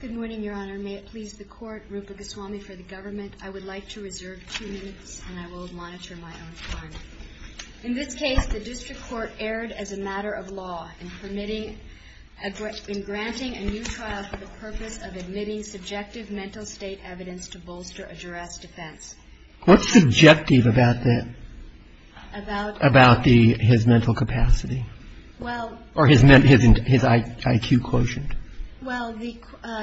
Good morning, your honor. May it please the court, Rupa Goswami for the government, I would like to reserve two minutes and I will monitor my own time. In this case, the district court erred as a matter of law in permitting, in granting a new trial for the purpose of admitting subjective mental state evidence to bolster a duress defense. What's subjective about that? About? About the, his mental capacity? Well Or his IQ quotient? Well, the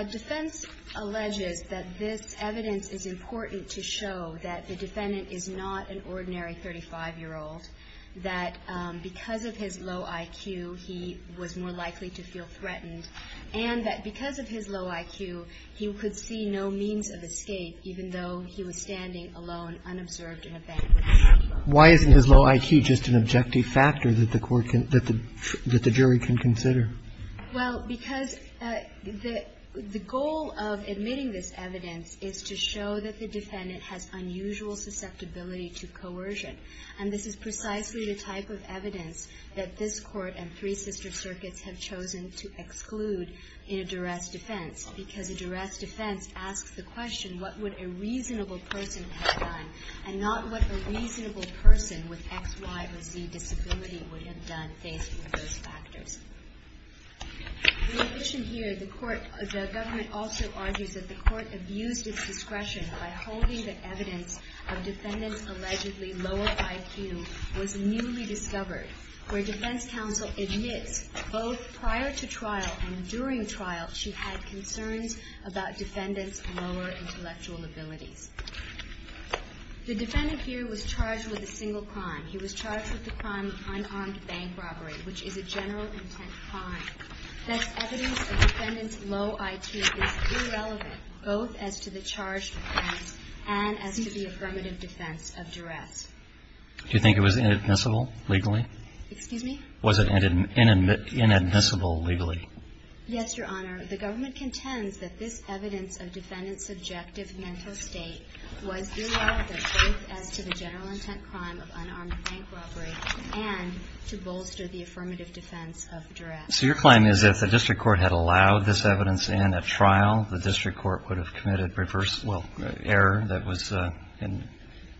defense alleges that this evidence is important to show that the defendant is not an ordinary 35-year-old, that because of his low IQ, he was more likely to feel threatened, and that because of his low IQ, he could see no means of escape even though he was standing alone unobserved in a banquet hall. Why isn't his low IQ just an objective factor that the court can, that the jury can consider? Well, because the goal of admitting this evidence is to show that the defendant has unusual susceptibility to coercion, and this is precisely the type of evidence that this court and three sister circuits have chosen to exclude in a duress defense, because a duress defense asks the question, what would a reasonable person have done, and not what a reasonable person with X, Y, or Z disability would have done based on those factors. In addition here, the court, the government also argues that the court abused its discretion by holding the evidence of defendant's allegedly lower IQ was newly discovered, where defense counsel admits both prior to trial and during trial she had concerns about defendant's lower intellectual abilities. The defendant here was charged with a single crime. He was charged with the crime of unarmed bank robbery, which is a general intent crime. Thus, evidence of defendant's low IQ is irrelevant both as to the charged offense and as to the affirmative defense of duress. Do you think it was inadmissible legally? Excuse me? Was it inadmissible legally? Yes, Your Honor. The government contends that this evidence of defendant's subjective mental state was irrelevant both as to the general intent crime of unarmed bank robbery and to bolster the affirmative defense of duress. So your claim is if the district court had allowed this evidence in at trial, the district court would have committed reverse, well, error that was in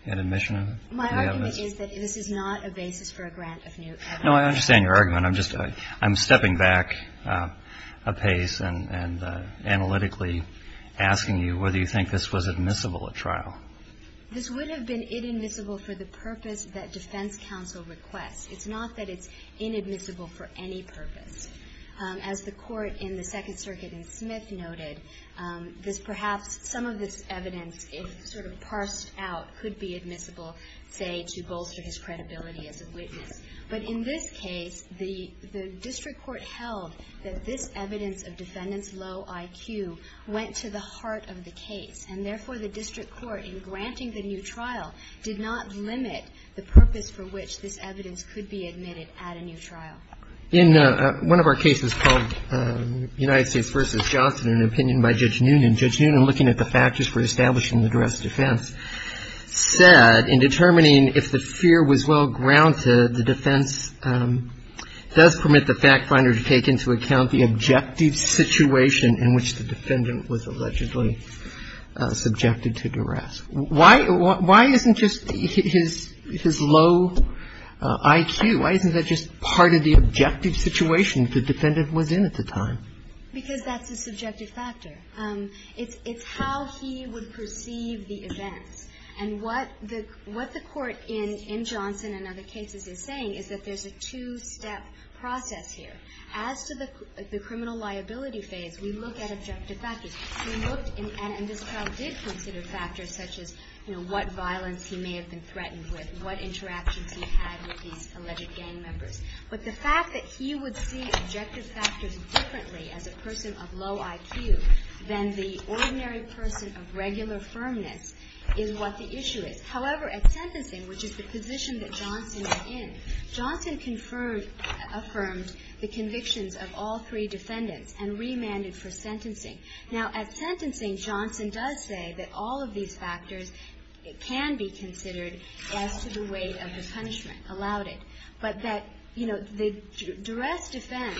admission of it? My argument is that this is not a basis for a grant of new evidence. No, I understand your argument. I'm just stepping back apace and analytically asking you whether you think this was admissible at trial. This would have been inadmissible for the purpose that defense counsel requests. It's not that it's inadmissible for any purpose. As the court in the Second Circuit in Smith noted, perhaps some of this evidence, if sort of parsed out, could be admissible, say, to bolster his credibility as a witness. But in this case, the district court held that this evidence of defendant's low IQ went to the heart of the case. And therefore, the district court, in granting the new trial, did not limit the purpose for which this evidence could be admitted at a new trial. In one of our cases called United States v. Johnson, an opinion by Judge Noonan, Judge Noonan, looking at the factors for establishing the duress defense, said in determining if the fear was well-grounded, the defense does permit the fact finder to take into account the objective situation in which the defendant was allegedly subjected to duress. Why isn't just his low IQ, why isn't that just part of the objective situation the defendant was in at the time? Because that's a subjective factor. It's how he would perceive the events. And what the court in Johnson and other cases is saying is that there's a two-step process here. As to the criminal liability phase, we look at objective factors. We looked at, and this trial did consider factors such as, you know, what violence he may have been threatened with, what interactions he had with these alleged gang members. But the fact that he would see objective factors differently as a person of low IQ than the ordinary person of regular firmness is what the issue is. However, at sentencing, which is the position that Johnson is in, Johnson affirmed the convictions of all three defendants and remanded for sentencing. Now, at sentencing, Johnson does say that all of these factors can be considered as to the weight of the punishment, allowed it. But that, you know, the duress defense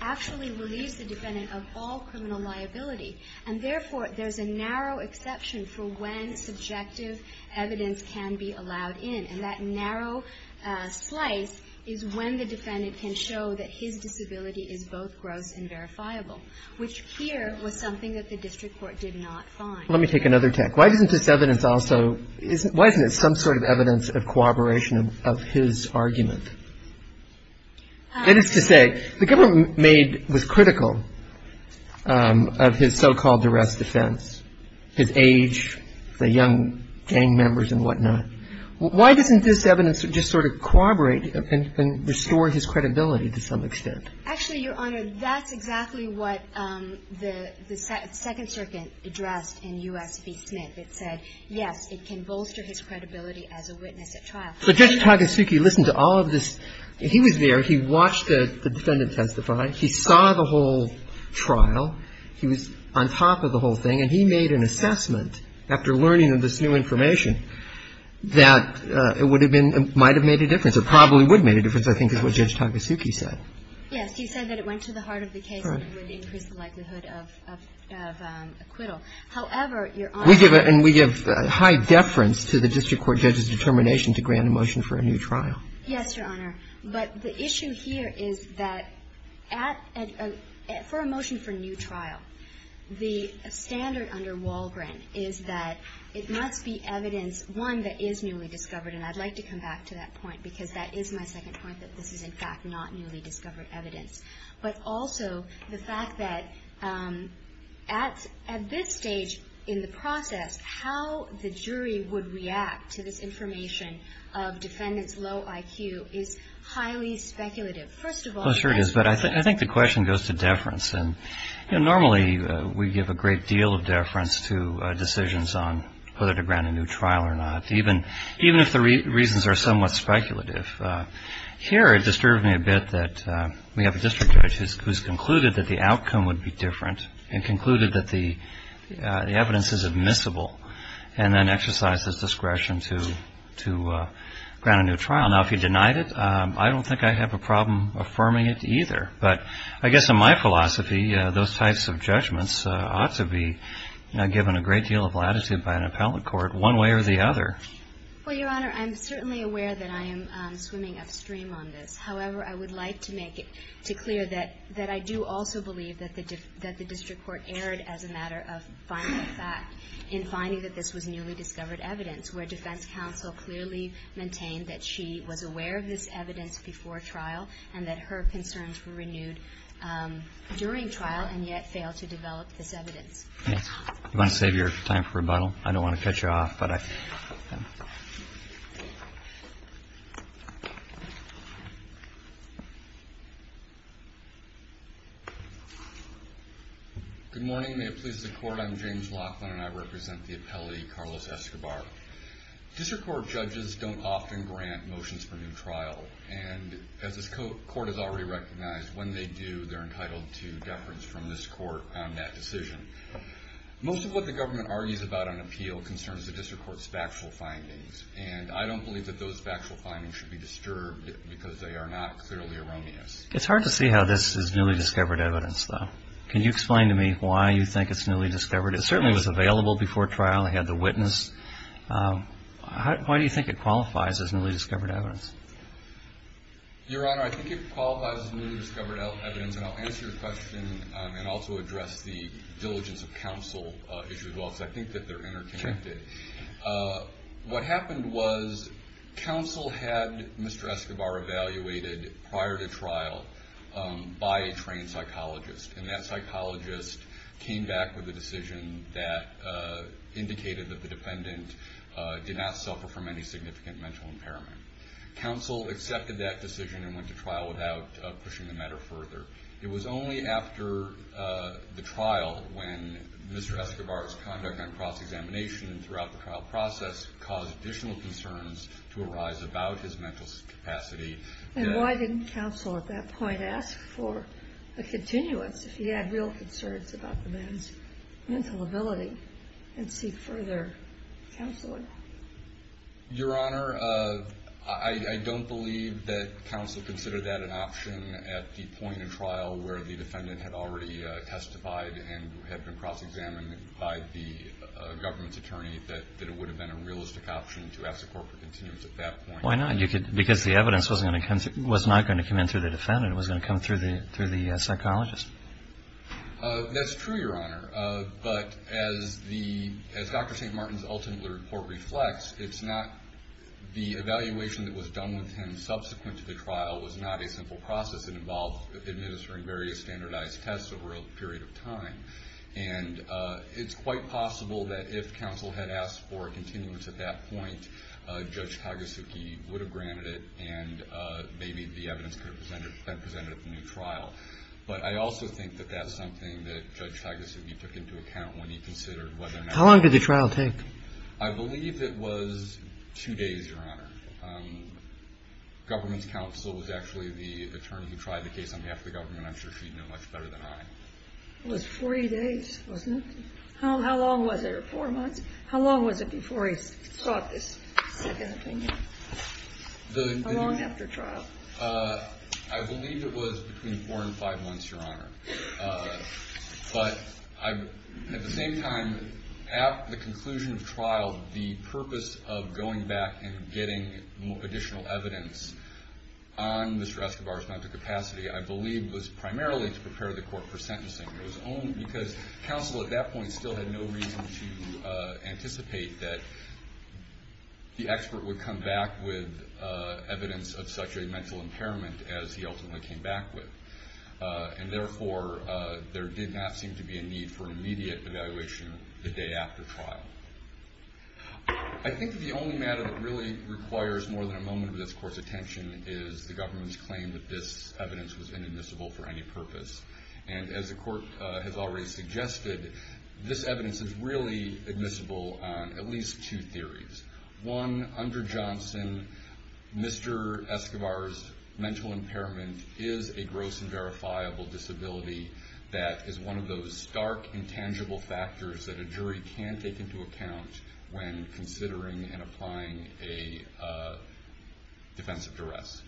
actually relieves the defendant of all criminal liability. And therefore, there's a narrow exception for when subjective evidence can be allowed in. And that narrow slice is when the defendant can show that his disability is both gross and verifiable, which here was something that the district court did not find. Let me take another tack. Why isn't this evidence also, why isn't it some sort of evidence of cooperation of his argument? That is to say, the government made, was critical of his so-called duress defense, his age, the young gang members and whatnot. Why doesn't this evidence just sort of corroborate and restore his credibility to some extent? Actually, Your Honor, that's exactly what the Second Circuit addressed in U.S. v. Smith. It said, yes, it can bolster his credibility as a witness at trial. But Judge Tagasuchi listened to all of this. He was there. He watched the defendant testify. He saw the whole trial. He was on top of the whole thing. And he made an assessment after learning of this new information that it would have been, it might have made a difference. It probably would have made a difference, I think, is what Judge Tagasuchi said. Yes. He said that it went to the heart of the case. Right. It would increase the likelihood of acquittal. However, Your Honor. We give a high deference to the district court judge's determination to grant a motion for a new trial. Yes, Your Honor. But the issue here is that for a motion for a new trial, the standard under Walgren is that it must be evidence, one, that is newly discovered. And I'd like to come back to that point, because that is my second point, that this is, in fact, not newly discovered evidence. But also the fact that at this stage in the process, how the jury would react to this information of defendants' low IQ is highly speculative. First of all, I think the question goes to deference. Normally we give a great deal of deference to decisions on whether to grant a new trial or not, even if the reasons are somewhat speculative. Here it disturbed me a bit that we have a district judge who's concluded that the outcome would be different and concluded that the evidence is admissible and then exercised his discretion to grant a new trial. Now, if you denied it, I don't think I'd have a problem affirming it either. But I guess in my philosophy, those types of judgments ought to be given a great deal of latitude by an appellate court one way or the other. Well, Your Honor, I'm certainly aware that I am swimming upstream on this. However, I would like to make it clear that I do also believe that the district court erred as a matter of finding a fact in finding that this was newly discovered evidence, where defense counsel clearly maintained that she was aware of this evidence before trial and that her concerns were renewed during trial and yet failed to develop this evidence. Do you want to save your time for rebuttal? I don't want to cut you off, but I can. Good morning. May it please the Court. I'm James Laughlin, and I represent the appellate, Carlos Escobar. District court judges don't often grant motions for new trial, and as this court has already recognized, when they do, they're entitled to deference from this court on that decision. Most of what the government argues about on appeal concerns the district court's factual findings, and I don't believe that those factual findings should be disturbed because they are not clearly erroneous. It's hard to see how this is newly discovered evidence, though. Can you explain to me why you think it's newly discovered? It certainly was available before trial. It had the witness. Why do you think it qualifies as newly discovered evidence? Your Honor, I think it qualifies as newly discovered evidence, and I'll answer your question and also address the diligence of counsel as well, because I think that they're interconnected. What happened was counsel had Mr. Escobar evaluated prior to trial by a trained psychologist, and that psychologist came back with a decision that indicated that the defendant did not suffer from any significant mental impairment. Counsel accepted that decision and went to trial without pushing the matter further. It was only after the trial when Mr. Escobar's conduct on cross-examination throughout the trial process caused additional concerns to arise about his mental capacity. And why didn't counsel at that point ask for a continuance if he had real concerns about the man's mental ability and seek further counseling? Your Honor, I don't believe that counsel considered that an option at the point of trial where the defendant had already testified and had been cross-examined by the government's attorney that it would have been a realistic option to ask the court for continuance at that point. Why not? Because the evidence was not going to come in through the defendant. It was going to come through the psychologist. That's true, Your Honor. But as Dr. St. Martin's ultimate report reflects, it's not the evaluation that was done with him subsequent to the trial was not a simple process. It involved administering various standardized tests over a period of time. And it's quite possible that if counsel had asked for a continuance at that point, Judge Tagasugi would have granted it, and maybe the evidence could have been presented at the new trial. But I also think that that's something that Judge Tagasugi took into account when he considered whether or not. How long did the trial take? I believe it was two days, Your Honor. Government's counsel was actually the attorney who tried the case on behalf of the government. I'm sure she'd know much better than I. It was 40 days, wasn't it? How long was it? Four months? How long was it before he sought this second opinion? How long after trial? I believe it was between four and five months, Your Honor. But at the same time, at the conclusion of trial, the purpose of going back and getting additional evidence on Mr. Escobar's mental capacity, I believe, was primarily to prepare the court for sentencing. It was only because counsel at that point still had no reason to anticipate that the expert would come back with evidence of such a mental impairment as he ultimately came back with. And therefore, there did not seem to be a need for immediate evaluation the day after trial. I think the only matter that really requires more than a moment of this Court's attention is the government's claim that this evidence was inadmissible for any purpose. And as the Court has already suggested, this evidence is really admissible on at least two theories. One, under Johnson, Mr. Escobar's mental impairment is a gross and verifiable disability that is one of those stark, intangible factors that a jury can take into account when considering and applying a defense of duress.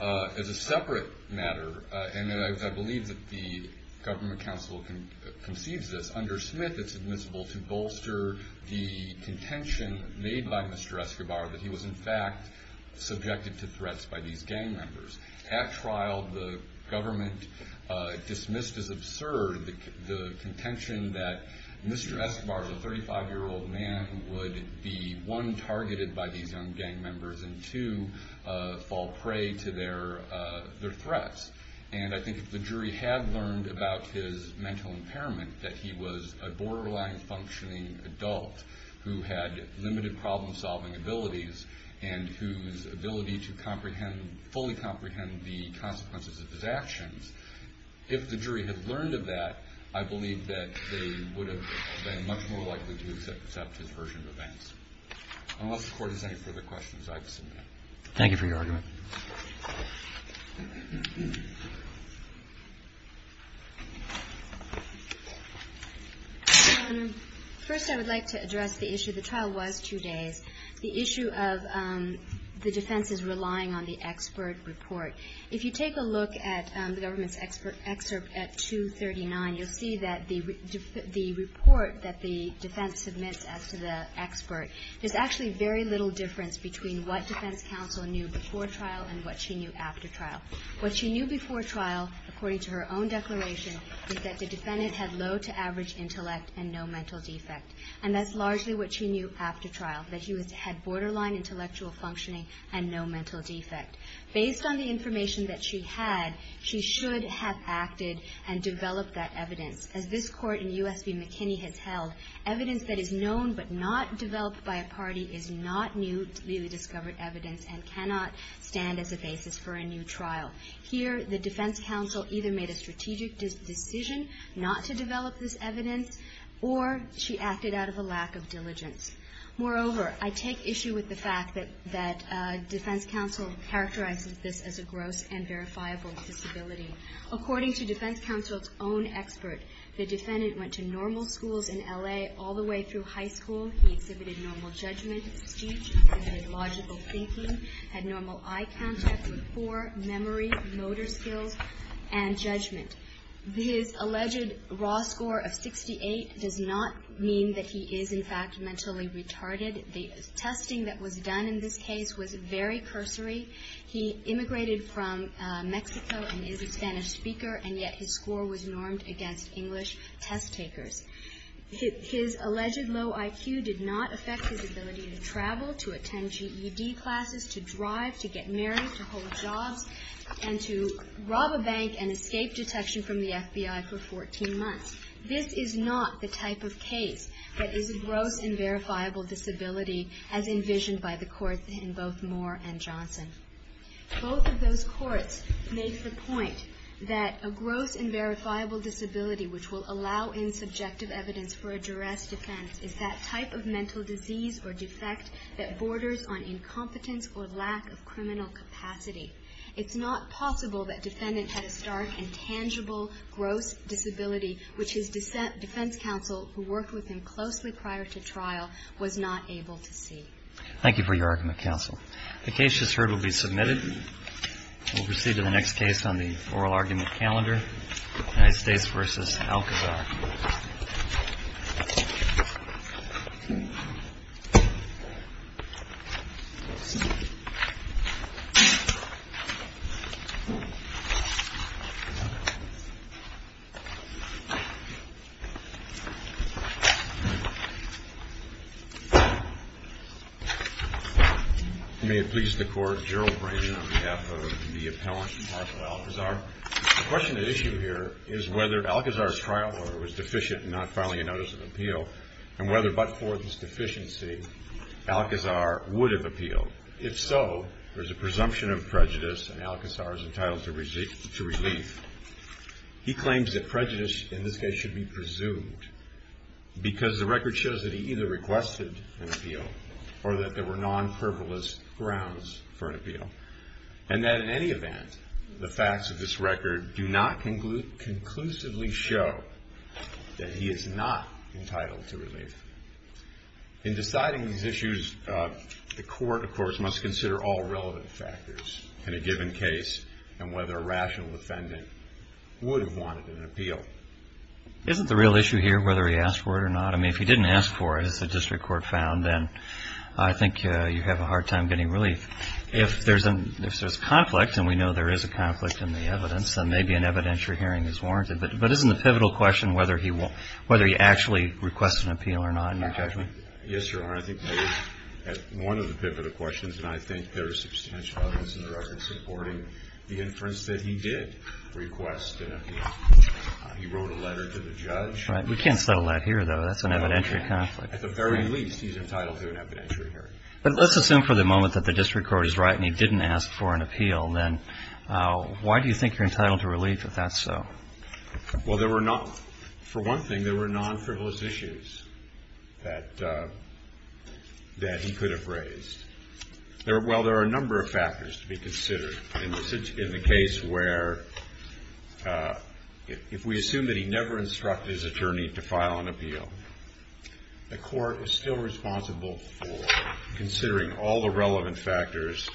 As a separate matter, and I believe that the Government Counsel concedes this, under Smith it's admissible to bolster the contention made by Mr. Escobar that he was in fact subjected to threats by these gang members. At trial, the Government dismissed as absurd the contention that Mr. Escobar, the 35-year-old man, would be, one, targeted by these young gang members, and two, fall prey to their threats. And I think if the jury had learned about his mental impairment, that he was a borderline functioning adult who had limited problem-solving abilities and whose ability to fully comprehend the consequences of his actions, if the jury had learned of that, I believe that they would have been much more likely to accept his version of events. Unless the Court has any further questions, I'd submit. Thank you for your argument. First, I would like to address the issue. The trial was two days. The issue of the defense is relying on the expert report. If you take a look at the government's expert excerpt at 239, you'll see that the report that the defense submits as to the expert, there's actually very little difference between what defense counsel knew before trial and what she knew after trial. What she knew before trial, according to her own declaration, is that the defendant had low-to-average intellect and no mental defect. And that's largely what she knew after trial, that he had borderline intellectual functioning and no mental defect. Based on the information that she had, she should have acted and developed that evidence. As this Court in U.S. v. McKinney has held, evidence that is known but not developed by a party is not newly discovered evidence and cannot stand as a basis for a new trial. Here, the defense counsel either made a strategic decision not to develop this evidence, or she acted out of a lack of diligence. Moreover, I take issue with the fact that defense counsel characterized this as a gross and verifiable disability. According to defense counsel's own expert, the defendant went to normal schools in L.A. all the way through high school. He exhibited normal judgment, speech, he exhibited logical thinking, had normal eye contact, memory, motor skills, and judgment. His alleged raw score of 68 does not mean that he is, in fact, mentally retarded. The testing that was done in this case was very cursory. He immigrated from Mexico and is a Spanish speaker, and yet his score was normed against English test takers. His alleged low IQ did not affect his ability to travel, to attend GED classes, to drive, to get married, to hold jobs, and to rob a bank and escape detection from the FBI for 14 months. This is not the type of case that is a gross and verifiable disability as envisioned by the Court in both Moore and Johnson. Both of those courts make the point that a gross and verifiable disability which will allow insubjective evidence for a duress defense is that type of mental disease or defect that borders on incompetence or lack of criminal capacity. It's not possible that defendant had a stark and tangible gross disability which his defense counsel, who worked with him closely prior to trial, was not able to see. Thank you for your argument, counsel. The case just heard will be submitted. We'll proceed to the next case on the oral argument calendar, United States v. Alcazar. May it please the Court. Gerald Branson on behalf of the appellant, Marshall Alcazar. The question at issue here is whether Alcazar's trial order was deficient in not filing a notice of appeal and whether, but for this deficiency, Alcazar would have appealed. If so, there's a presumption of prejudice and Alcazar is entitled to relief. He claims that prejudice in this case should be presumed because the record shows that he either requested an appeal or that there were non-frivolous grounds for an appeal and that in any event, the facts of this record do not conclusively show that he is not entitled to relief. In deciding these issues, the court, of course, must consider all relevant factors in a given case and whether a rational defendant would have wanted an appeal. Isn't the real issue here whether he asked for it or not? I mean, if he didn't ask for it, as the district court found, then I think you have a hard time getting relief. If there's conflict, and we know there is a conflict in the evidence, then maybe an evidentiary hearing is warranted, but isn't the pivotal question whether he actually requested an appeal or not in your judgment? Yes, Your Honor, I think that is one of the pivotal questions and I think there is substantial evidence in the record supporting the inference that he did request an appeal. He wrote a letter to the judge. We can't settle that here, though. That's an evidentiary conflict. At the very least, he's entitled to an evidentiary hearing. But let's assume for the moment that the district court is right and he didn't ask for an appeal, then why do you think you're entitled to relief if that's so? Well, there were not, for one thing, there were non-frivolous issues that he could have raised. Well, there are a number of factors to be considered in the case where if we assume that he never instructed his attorney to file an appeal, the court is still responsible for considering all the relevant factors.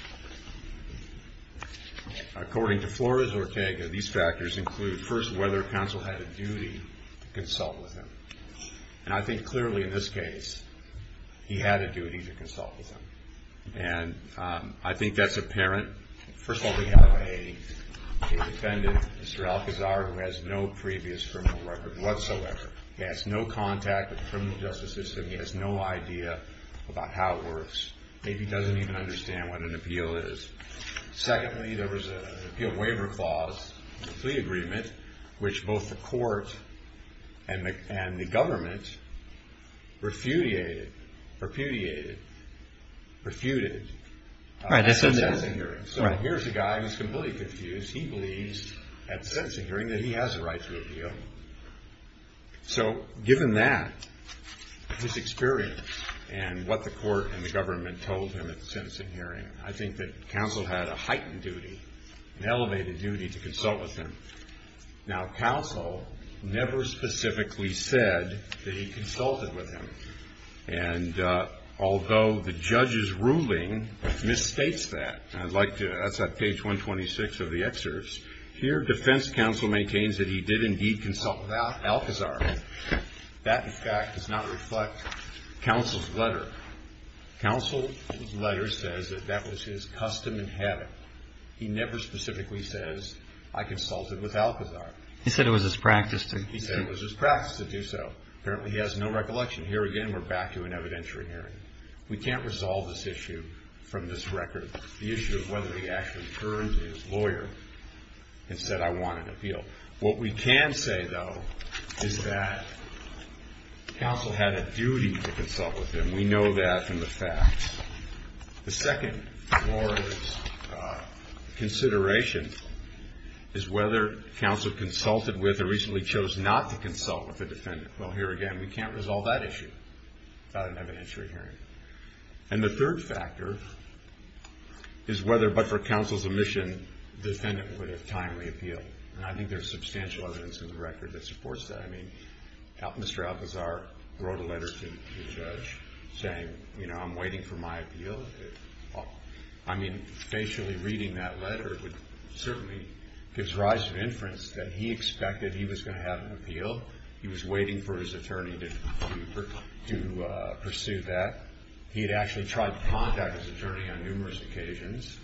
According to Flores or Ortega, these factors include, first, whether counsel had a duty to consult with him. And I think clearly in this case, he had a duty to consult with him, and I think that's apparent. First of all, we have a defendant, Mr. Alcazar, who has no previous criminal record whatsoever. He has no contact with the criminal justice system. He has no idea about how it works. Maybe he doesn't even understand what an appeal is. Secondly, there was an appeal waiver clause, a plea agreement, which both the court and the government refuted at the sentencing hearing. So here's a guy who's completely confused. He believes at the sentencing hearing that he has a right to appeal. So given that, his experience, and what the court and the government told him at the sentencing hearing, I think that counsel had a heightened duty, an elevated duty to consult with him. Now, counsel never specifically said that he consulted with him. And although the judge's ruling misstates that, and I'd like to, that's at page 126 of the excerpts, here defense counsel maintains that he did indeed consult with Alcazar. That, in fact, does not reflect counsel's letter. Counsel's letter says that that was his custom and habit. He never specifically says, I consulted with Alcazar. He said it was his practice to. He said it was his practice to do so. Apparently, he has no recollection. Here again, we're back to an evidentiary hearing. We can't resolve this issue from this record. The issue is whether he actually turned to his lawyer and said, I want an appeal. What we can say, though, is that counsel had a duty to consult with him. We know that from the facts. The second consideration is whether counsel consulted with or reasonably chose not to consult with the defendant. Well, here again, we can't resolve that issue without an evidentiary hearing. And the third factor is whether, but for counsel's omission, the defendant would have timely appealed. And I think there's substantial evidence in the record that supports that. I mean, Mr. Alcazar wrote a letter to the judge saying, you know, I'm waiting for my appeal. I mean, facially reading that letter would certainly give rise to inference that he expected he was going to have an appeal. He was waiting for his attorney to pursue that. He had actually tried to contact his attorney on numerous occasions.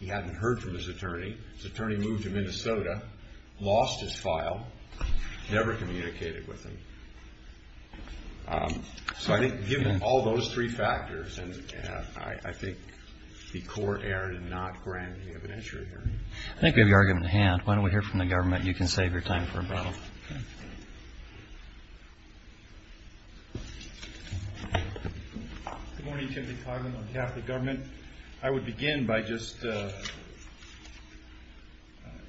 He hadn't heard from his attorney. His attorney moved to Minnesota, lost his file, never communicated with him. So I think given all those three factors, I think the court erred in not granting the evidentiary hearing. I think we have your argument at hand. Why don't we hear from the government? You can save your time for rebuttal. Okay. Timothy Coghlan on behalf of the government. I would begin by just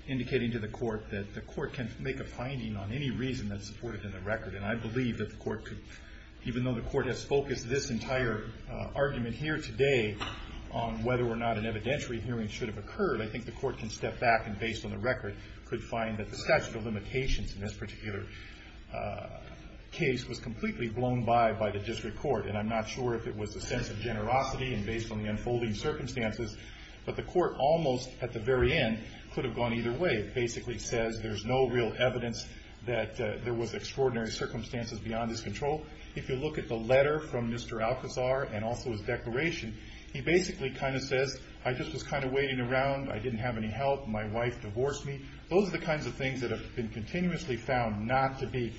indicating to the court that the court can make a finding on any reason that's supported in the record. And I believe that the court could, even though the court has focused this entire argument here today on whether or not an evidentiary hearing should have occurred, I think the court can step back and, based on the record, could find that the statute of limitations in this particular case was completely blown by by the district court. And I'm not sure if it was a sense of generosity and based on the unfolding circumstances. But the court almost, at the very end, could have gone either way. It basically says there's no real evidence that there was extraordinary circumstances beyond his control. If you look at the letter from Mr. Alcazar and also his declaration, he basically kind of says, I just was kind of waiting around. I didn't have any help. My wife divorced me. Those are the kinds of things that have been continuously found not to be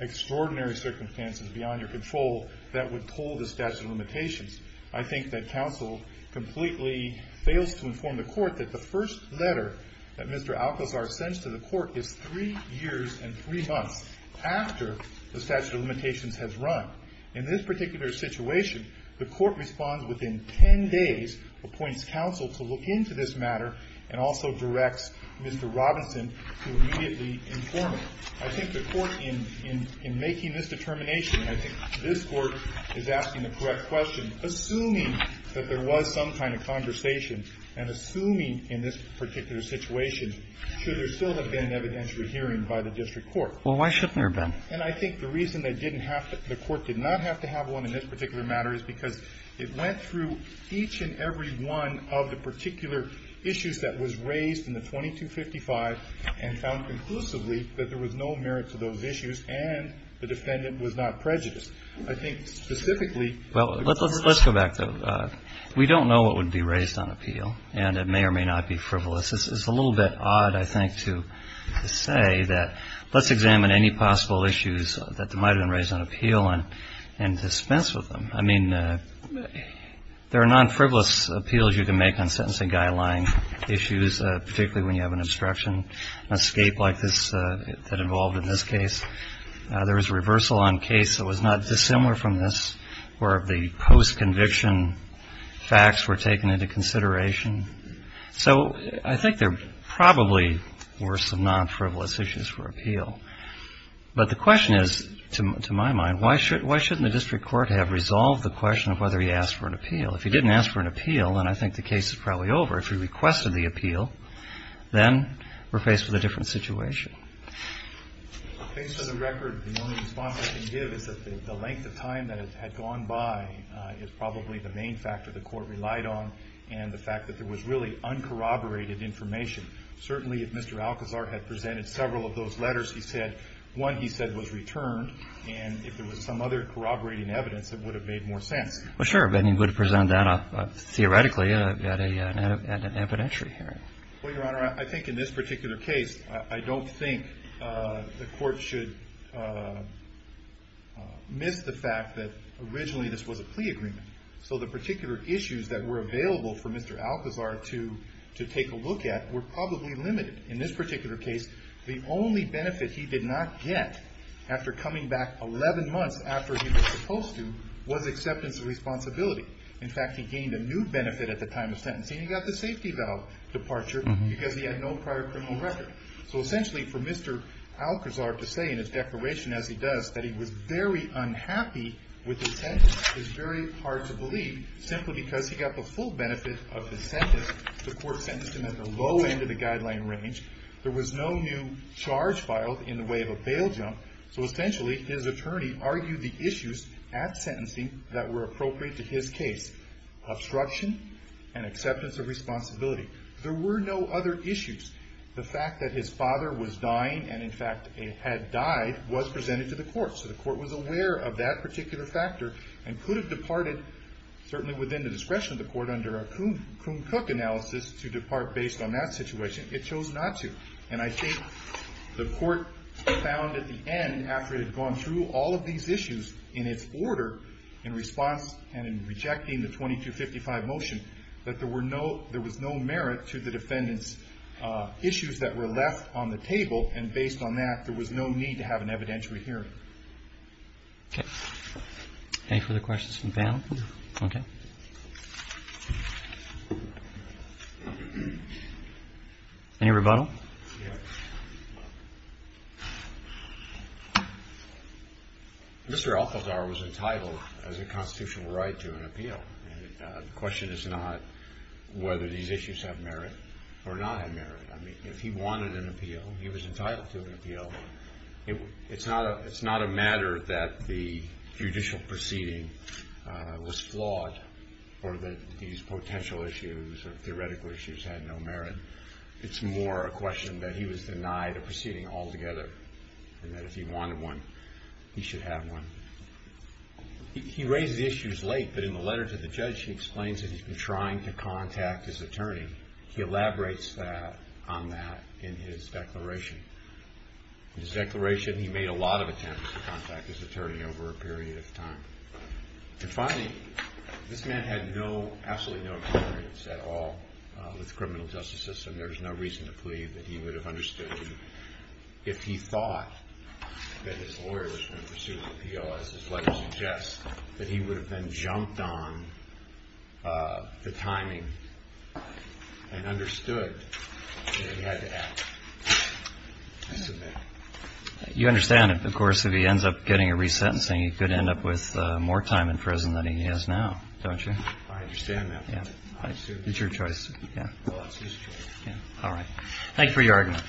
extraordinary circumstances beyond your control that would pull the statute of limitations. I think that counsel completely fails to inform the court that the first letter that Mr. Alcazar sends to the court is three years and three months after the statute of limitations has run. In this particular situation, the court responds within ten days, appoints counsel to look into this matter, and also directs Mr. Robinson to immediately inform it. I think the court, in making this determination, and I think this Court is asking the correct question, assuming that there was some kind of conversation and assuming in this particular situation, should there still have been an evidentiary hearing by the district court. Well, why shouldn't there have been? And I think the reason that the court did not have to have one in this particular matter is because it went through each and every one of the particular issues that was raised in the 2255 and found conclusively that there was no merit to those issues and the defendant was not prejudiced. I think specifically the court was not prejudiced. Well, let's go back, though. We don't know what would be raised on appeal, and it may or may not be frivolous. It's a little bit odd, I think, to say that let's examine any possible issues that might have been raised on appeal and dispense with them. I mean, there are non-frivolous appeals you can make on sentencing guideline issues, particularly when you have an obstruction, an escape like this that involved in this case. There was a reversal on case that was not dissimilar from this where the post-conviction facts were taken into consideration. So I think there probably were some non-frivolous issues for appeal. But the question is, to my mind, why shouldn't the district court have resolved the question of whether he asked for an appeal? If he didn't ask for an appeal, then I think the case is probably over. If he requested the appeal, then we're faced with a different situation. Based on the record, the only response I can give is that the length of time that had gone by is probably the main factor the court relied on and the fact that there was really uncorroborated information. Certainly, if Mr. Alcazar had presented several of those letters, he said one, he said, was returned, and if there was some other corroborating evidence, it would have made more sense. Well, sure, but he would have presented that theoretically at an evidentiary hearing. Well, Your Honor, I think in this particular case, I don't think the court should miss the fact that originally this was a plea agreement. So the particular issues that were available for Mr. Alcazar to take a look at were probably limited. In this particular case, the only benefit he did not get after coming back 11 months after he was supposed to was acceptance of responsibility. In fact, he gained a new benefit at the time of sentencing. He got the safety valve departure because he had no prior criminal record. So essentially, for Mr. Alcazar to say in his declaration, as he does, that he was very unhappy with his sentence is very hard to believe, simply because he got the full benefit of his sentence. The court sentenced him at the low end of the guideline range. There was no new charge filed in the way of a bail jump. So essentially, his attorney argued the issues at sentencing that were appropriate to his case, obstruction and acceptance of responsibility. There were no other issues. The fact that his father was dying and, in fact, had died was presented to the court. So the court was aware of that particular factor and could have departed, certainly within the discretion of the court, under a Kuhn-Cook analysis to depart based on that situation. It chose not to. And I think the court found at the end, after it had gone through all of these issues in its order, in response and in rejecting the 2255 motion, that there was no merit to the defendant's issues that were left on the table. And based on that, there was no need to have an evidentiary hearing. Okay. Any further questions from the panel? No. Okay. Any rebuttal? Yes. Mr. Alcazar was entitled, as a constitutional right, to an appeal. The question is not whether these issues have merit or not have merit. I mean, if he wanted an appeal, he was entitled to an appeal. It's not a matter that the judicial proceeding was flawed or that these potential issues or theoretical issues had no merit. It's more a question that he was denied a proceeding altogether and that if he wanted one, he should have one. He raised the issues late, but in the letter to the judge, he explains that he's been trying to contact his attorney. He elaborates on that in his declaration. In his declaration, he made a lot of attempts to contact his attorney over a period of time. And finally, this man had no, absolutely no experience at all with the criminal justice system. There's no reason to believe that he would have understood if he thought that his lawyer was going to pursue an appeal, as his letter suggests, that he would have then jumped on the timing and understood that he had to act. You understand, of course, if he ends up getting a resentencing, he could end up with more time in prison than he has now, don't you? I understand that. It's your choice. Well, it's his choice. All right. Thank you for your argument.